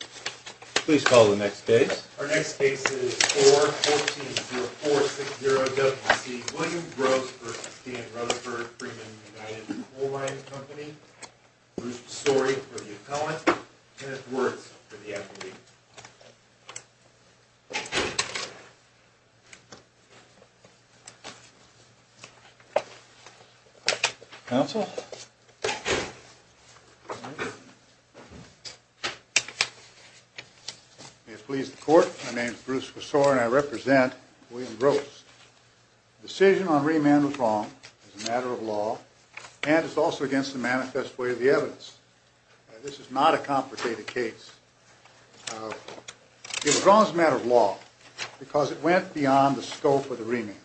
Please call the next case. Our next case is 4-14-0-4-6-0-W-C. William Gross v. Stan Rutherford, Freeman & United Coal Mining Comp'n. Bruce Tesori v. The Appellant. Kenneth Wertz v. The Appellate. Counsel? May it please the Court, my name is Bruce Tesori and I represent William Gross. The decision on remand was wrong as a matter of law and it's also against the manifest way of the evidence. This is not a complicated case. It was wrong as a matter of law because it went beyond the scope of the remand.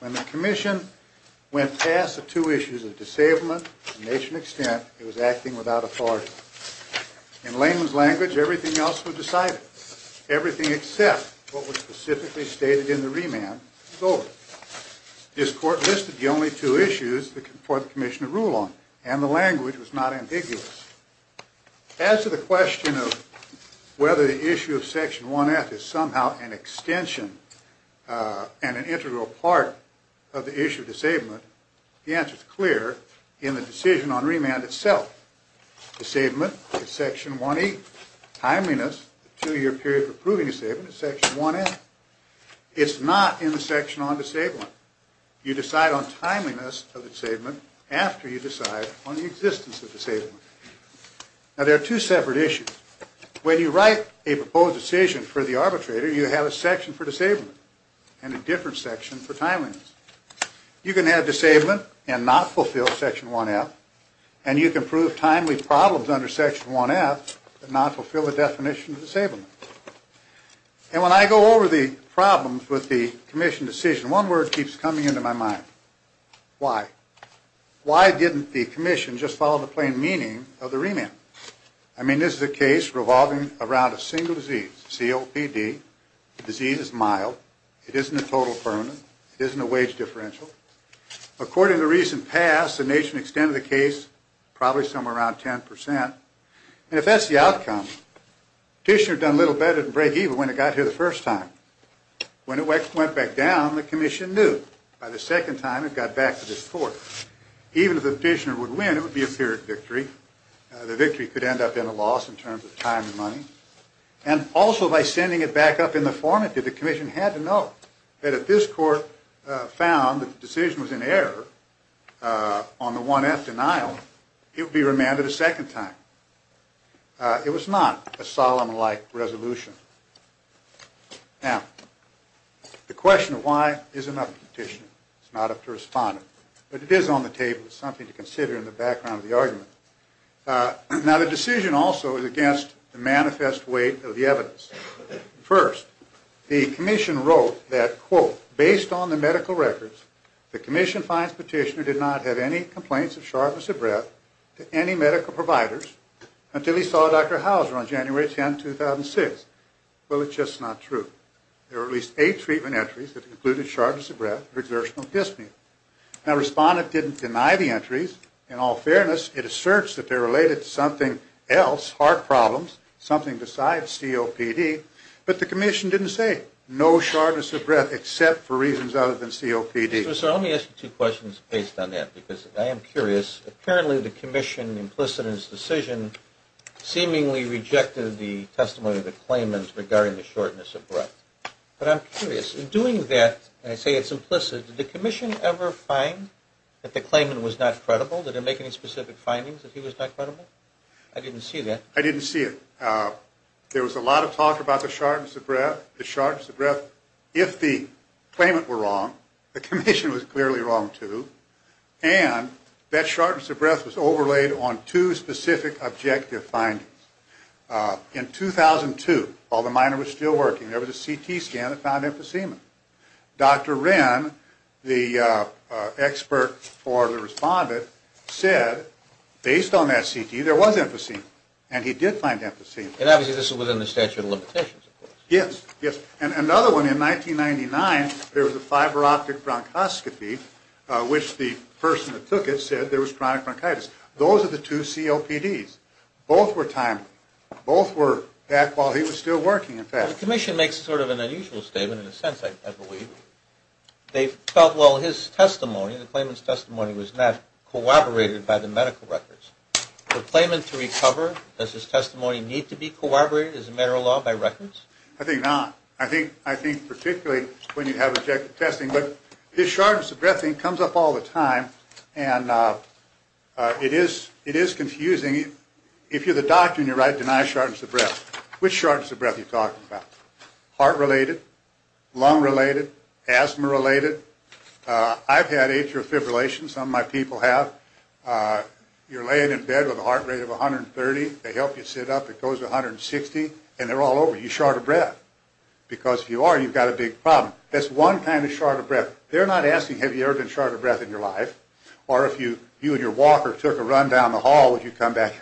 When the Commission went past the two issues of disablement and nation extent, it was acting without authority. In layman's language, everything else was decided. Everything except what was specifically stated in the remand was over. This Court listed the only two issues for the Commission to rule on and the language was not ambiguous. As to the question of whether the issue of Section 1F is somehow an extension and an integral part of the issue of disablement, the answer is clear in the decision on remand itself. Disablement is Section 1E. Timeliness, the two year period of approving disablement, is Section 1N. It's not in the section on disablement. You decide on timeliness of disablement after you decide on the existence of disablement. Now there are two separate issues. When you write a proposed decision for the arbitrator, you have a section for disablement and a different section for timeliness. You can have disablement and not fulfill Section 1F and you can prove timely problems under Section 1F but not fulfill the definition of disablement. And when I go over the problems with the Commission decision, one word keeps coming into my mind. Why? Why didn't the Commission just follow the plain meaning of the remand? I mean this is a case revolving around a single disease, COPD. The disease is mild. It isn't a total permanent. It isn't a wage differential. According to recent past, the nation extended the case probably somewhere around 10%. And if that's the outcome, the petitioner done little better than break even when it got here the first time. When it went back down, the Commission knew by the second time it got back to this court. Even if the petitioner would win, it would be a period of victory. The victory could end up in a loss in terms of time and money. And also by sending it back up in the formative, the Commission had to know that if this court found that the decision was in error on the 1F denial, it would be remanded a second time. It was not a solemn-like resolution. Now, the question of why isn't up to the petitioner. It's not up to the respondent. But it is on the table. It's something to consider in the background of the argument. Now, the decision also is against the manifest weight of the evidence. First, the Commission wrote that, quote, based on the medical records, the Commission finds the petitioner did not have any complaints of sharpness of breath to any medical providers until he saw Dr. Hauser on January 10, 2006. Well, it's just not true. There were at least eight treatment entries that included sharpness of breath or exertional dyspnea. Now, the respondent didn't deny the entries. In all fairness, it asserts that they're related to something else, heart problems, something besides COPD. But the Commission didn't say no sharpness of breath except for reasons other than COPD. Mr. Messer, let me ask you two questions based on that because I am curious. Apparently, the Commission, implicit in its decision, seemingly rejected the testimony of the claimant regarding the shortness of breath. But I'm curious, in doing that, and I say it's implicit, did the Commission ever find that the claimant was not credible? Did it make any specific findings that he was not credible? I didn't see that. I didn't see it. There was a lot of talk about the sharpness of breath. The sharpness of breath, if the claimant were wrong, the Commission was clearly wrong, too. And that sharpness of breath was overlaid on two specific objective findings. In 2002, while the miner was still working, there was a CT scan that found emphysema. Dr. Wren, the expert for the respondent, said, based on that CT, there was emphysema. And he did find emphysema. And obviously, this was within the statute of limitations. Yes, yes. And another one, in 1999, there was a fiber optic bronchoscopy, which the person that took it said there was chronic bronchitis. Those are the two COPDs. Both were timely. Both were back while he was still working, in fact. The Commission makes sort of an unusual statement, in a sense, I believe. They felt, well, his testimony, the claimant's testimony was not corroborated by the medical records. For a claimant to recover, does his testimony need to be corroborated as a matter of law by records? I think not. I think particularly when you have objective testing. But this shortness of breath thing comes up all the time. And it is confusing. If you're the doctor and you're right, deny shortness of breath. Which shortness of breath are you talking about? Heart related? Lung related? Asthma related? I've had atrial fibrillation. Some of my people have. You're laying in bed with a heart rate of 130. They help you sit up. It goes to 160. And they're all over you. Short of breath. Because if you are, you've got a big problem. That's one kind of short of breath. They're not asking, have you ever been short of breath in your life? Or if you and your walker took a run down the hall, would you come back?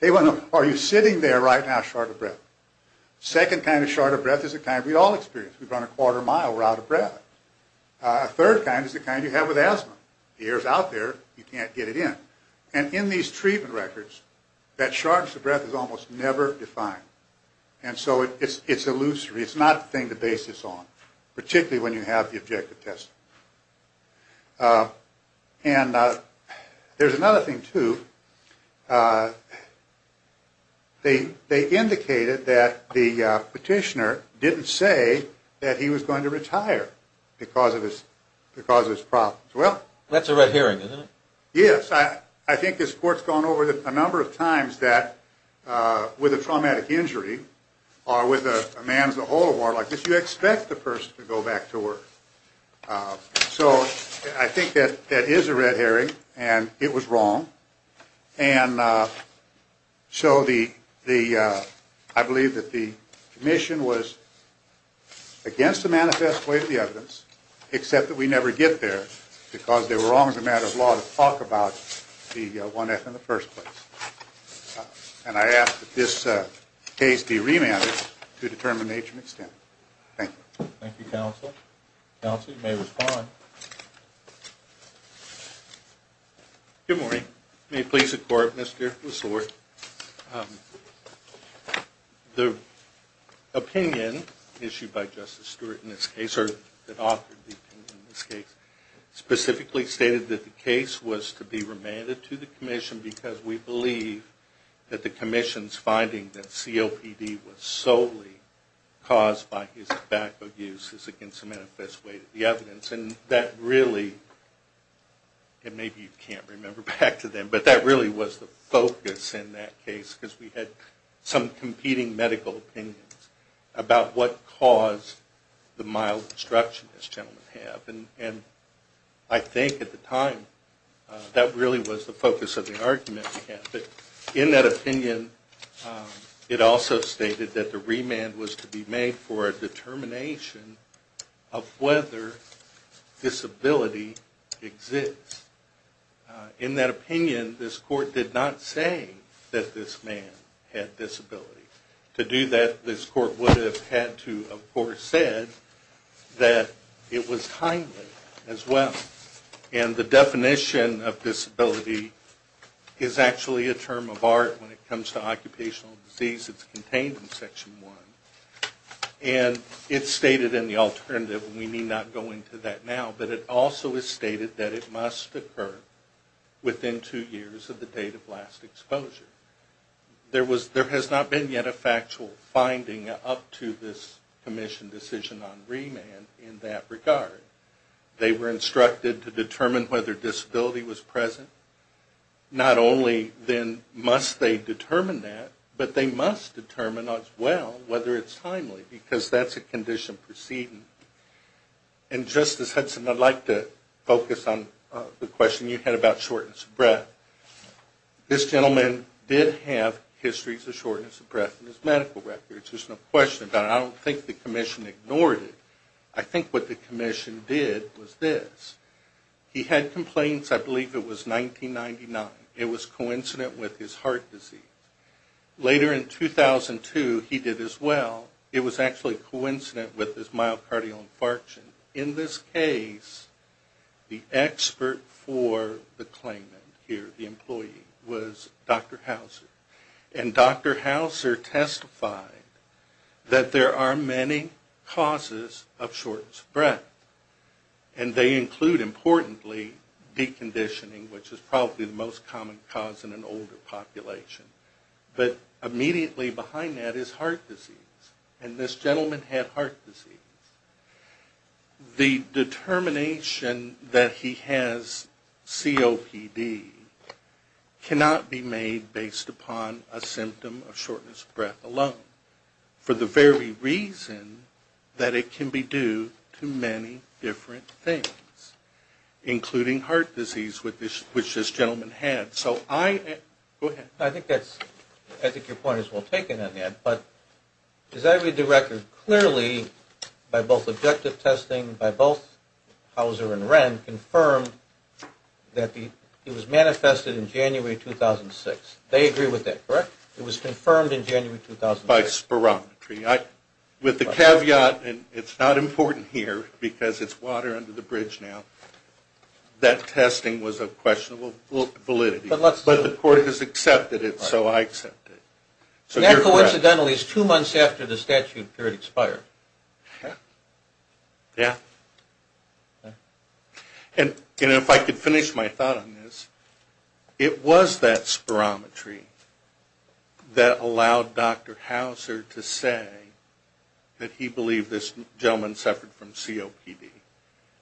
They want to know, are you sitting there right now short of breath? Second kind of short of breath is the kind we all experience. We've run a quarter mile, we're out of breath. A third kind is the kind you have with asthma. The air is out there, you can't get it in. And in these treatment records, that shortness of breath is almost never defined. And so it's illusory. It's not a thing to base this on. Particularly when you have the objective testing. And there's another thing too. They indicated that the petitioner didn't say that he was going to retire because of his problems. That's a red herring, isn't it? Yes, I think this court has gone over a number of times that with a traumatic injury, or with a man as a whole at war like this, you expect the person to go back to work. So I think that is a red herring, and it was wrong. And so I believe that the commission was against the manifest way of the evidence, except that we never get there. Because they were wrong as a matter of law to talk about the 1F in the first place. And I ask that this case be remanded to determine the nature and extent. Thank you. Thank you, Counselor. Counselor, you may respond. Good morning. May it please the Court, Mr. LeSueur. The opinion issued by Justice Stewart in this case, or that authored the opinion in this case, specifically stated that the case was to be remanded to the commission because we believe that the commission's finding that COPD was solely caused by his lack of use is against the manifest way of the evidence. And that really, and maybe you can't remember back to then, but that really was the focus in that case because we had some competing medical opinions about what caused the mild destruction this gentleman had. And I think at the time, that really was the focus of the argument we had. But in that opinion, it also stated that the remand was to be made for a determination of whether disability exists. In that opinion, this Court did not say that this man had disability. To do that, this Court would have had to, of course, said that it was timely as well. And the definition of disability is actually a term of art when it comes to occupational disease. It's contained in Section 1. And it's stated in the alternative, and we need not go into that now, but it also is stated that it must occur within two years of the date of last exposure. There has not been yet a factual finding up to this Commission decision on remand in that regard. They were instructed to determine whether disability was present. Not only then must they determine that, but they must determine as well whether it's timely because that's a condition proceeding. And Justice Hudson, I'd like to focus on the question you had about shortness of breath. This gentleman did have histories of shortness of breath in his medical records. There's no question about it. I don't think the Commission ignored it. I think what the Commission did was this. He had complaints, I believe it was 1999. It was coincident with his heart disease. Later in 2002, he did as well. It was actually coincident with his myocardial infarction. In this case, the expert for the claimant here, the employee, was Dr. Hauser. And Dr. Hauser testified that there are many causes of shortness of breath. And they include, importantly, deconditioning, which is probably the most common cause in an older population. But immediately behind that is heart disease. And this gentleman had heart disease. The determination that he has COPD cannot be made based upon a symptom of shortness of breath alone, for the very reason that it can be due to many different things, including heart disease, which this gentleman had. So I, go ahead. I think your point is well taken on that. But as I read the record, clearly, by both objective testing, by both Hauser and Wren, confirmed that it was manifested in January 2006. They agree with that, correct? It was confirmed in January 2006. By spirometry. With the caveat, and it's not important here, because it's water under the bridge now, that testing was of questionable validity. But the court has accepted it, so I accept it. And that, coincidentally, is two months after the statute period expired. Yeah. Yeah. And if I could finish my thought on this, it was that spirometry that allowed Dr. Hauser to say that he believed this gentleman suffered from COPD.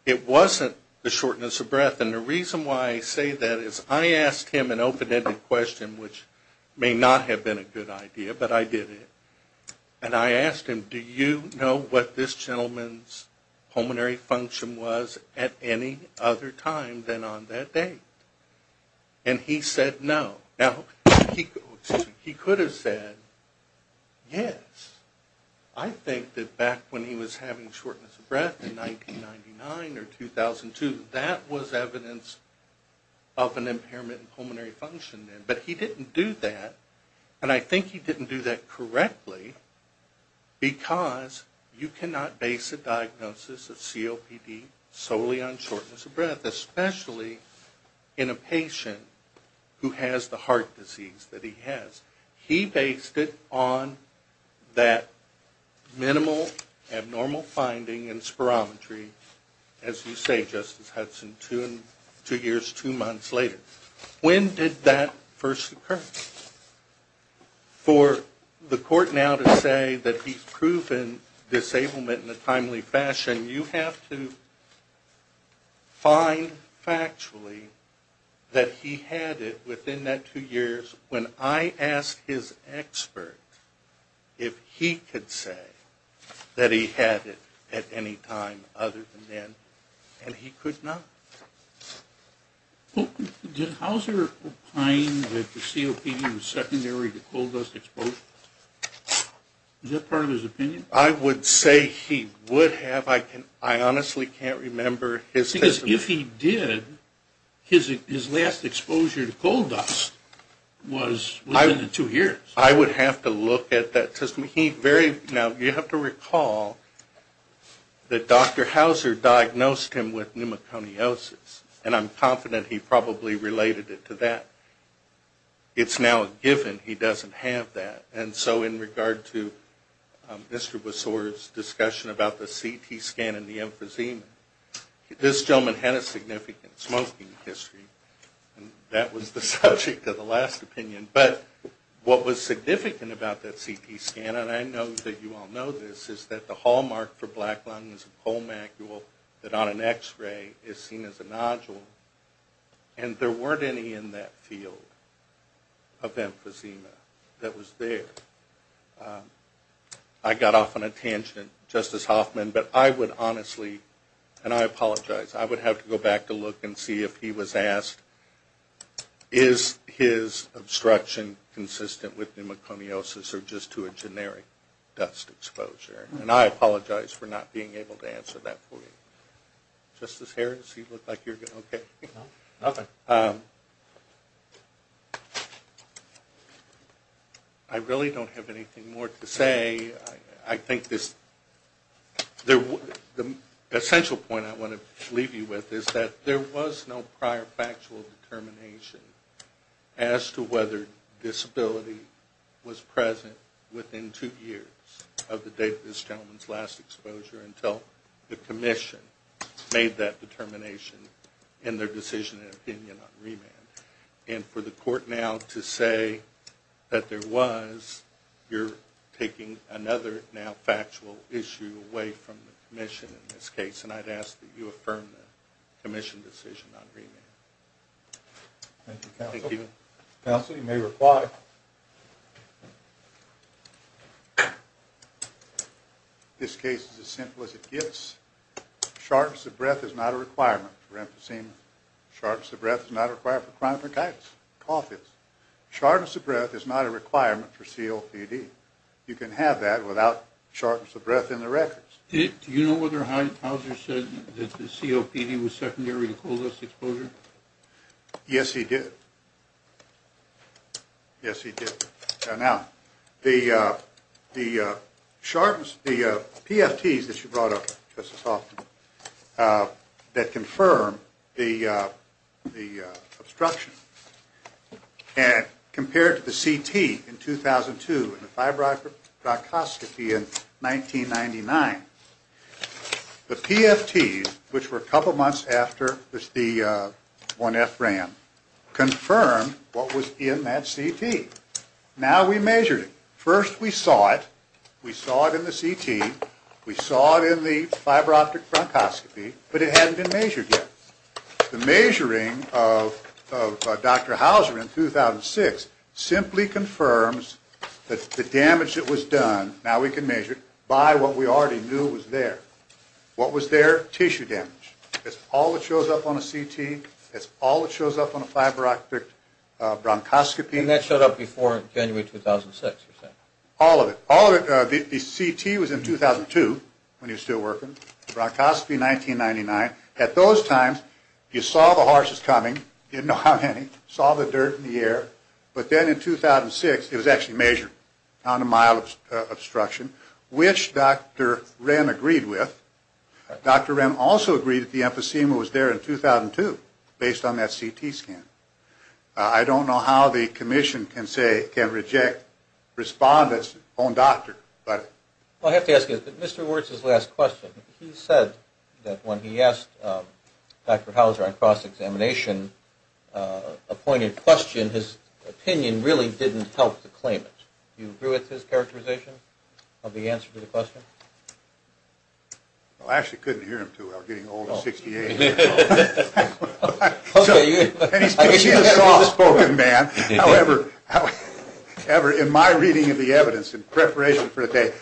It wasn't the shortness of breath. And the reason why I say that is I asked him an open-ended question, which may not have been a good idea, but I did it. And I asked him, do you know what this gentleman's pulmonary function was at any other time than on that date? And he said no. Now, he could have said yes. I think that back when he was having shortness of breath in 1999 or 2002, that was evidence of an impairment in pulmonary function then. But he didn't do that, and I think he didn't do that correctly, because you cannot base a diagnosis of COPD solely on shortness of breath, especially in a patient who has the heart disease that he has. He based it on that minimal, abnormal finding in spirometry, as you say, Justice Hudson, two years, two months later. When did that first occur? For the court now to say that he's proven disablement in a timely fashion, you have to find factually that he had it within that two years. When I asked his expert if he could say that he had it at any time other than then, and he could not. Did Hauser find that the COPD was secondary to coal dust exposure? Is that part of his opinion? I would say he would have. I honestly can't remember his testimony. If he did, his last exposure to coal dust was within the two years. I would have to look at that testimony. Now, you have to recall that Dr. Hauser diagnosed him with pneumoconiosis, and I'm confident he probably related it to that. It's now a given he doesn't have that. And so in regard to Mr. Besor's discussion about the CT scan and the emphysema, this gentleman had a significant smoking history, and that was the subject of the last opinion. But what was significant about that CT scan, and I know that you all know this, is that the hallmark for black lungs, is a coal macule that on an x-ray is seen as a nodule, and there weren't any in that field of emphysema that was there. I got off on a tangent, Justice Hoffman, but I would honestly, and I apologize, I would have to go back to look and see if he was asked, is his obstruction consistent with pneumoconiosis, or just to a generic dust exposure? And I apologize for not being able to answer that for you. Justice Harris, you look like you're okay. Nothing. I really don't have anything more to say. I think the essential point I want to leave you with is that there was no prior factual determination as to whether disability was present within two years of the date of this gentleman's last exposure until the Commission made that determination in their decision and opinion on remand. And for the Court now to say that there was, you're taking another now factual issue away from the Commission in this case, and I'd ask that you affirm the Commission decision on remand. Thank you, Counsel. Counsel, you may reply. This case is as simple as it gets. Sharpness of breath is not a requirement for emphysema. Sharpness of breath is not required for chronic bronchitis. Cough is. Sharpness of breath is not a requirement for COPD. You can have that without sharpness of breath in the records. Do you know whether Howard Hauser said that the COPD was secondary to cold dust exposure? Yes, he did. Yes, he did. Now, the sharpness, the PFTs that you brought up, Justice Hoffman, that confirm the obstruction compared to the CT in 2002, and the fibro-optic bronchoscopy in 1999, the PFTs, which were a couple months after the 1F ran, confirmed what was in that CT. Now we measured it. First we saw it. We saw it in the CT. We saw it in the fibro-optic bronchoscopy, but it hadn't been measured yet. The measuring of Dr. Hauser in 2006 simply confirms that the damage that was done, now we can measure it, by what we already knew was there. What was there? Tissue damage. That's all that shows up on a CT. That's all that shows up on a fibro-optic bronchoscopy. And that showed up before January 2006, you're saying? All of it. All of it. The CT was in 2002 when he was still working. The CT was in 2002. Bronchoscopy 1999. At those times, you saw the horses coming. You didn't know how many. You saw the dirt in the air. But then in 2006, it was actually measured on a mild obstruction, which Dr. Wren agreed with. Dr. Wren also agreed that the emphysema was there in 2002, based on that CT scan. I don't know how the commission can say, can reject respondents on doctor, but... Well, I have to ask you this, but Mr. Wertz's last question, he said that when he asked Dr. Hauser on cross-examination, a pointed question, his opinion really didn't help to claim it. Do you agree with his characterization of the answer to the question? Well, I actually couldn't hear him, too. I was getting old at 68. Okay. And he's a soft-spoken man. However, in my reading of the evidence, in preparation for today,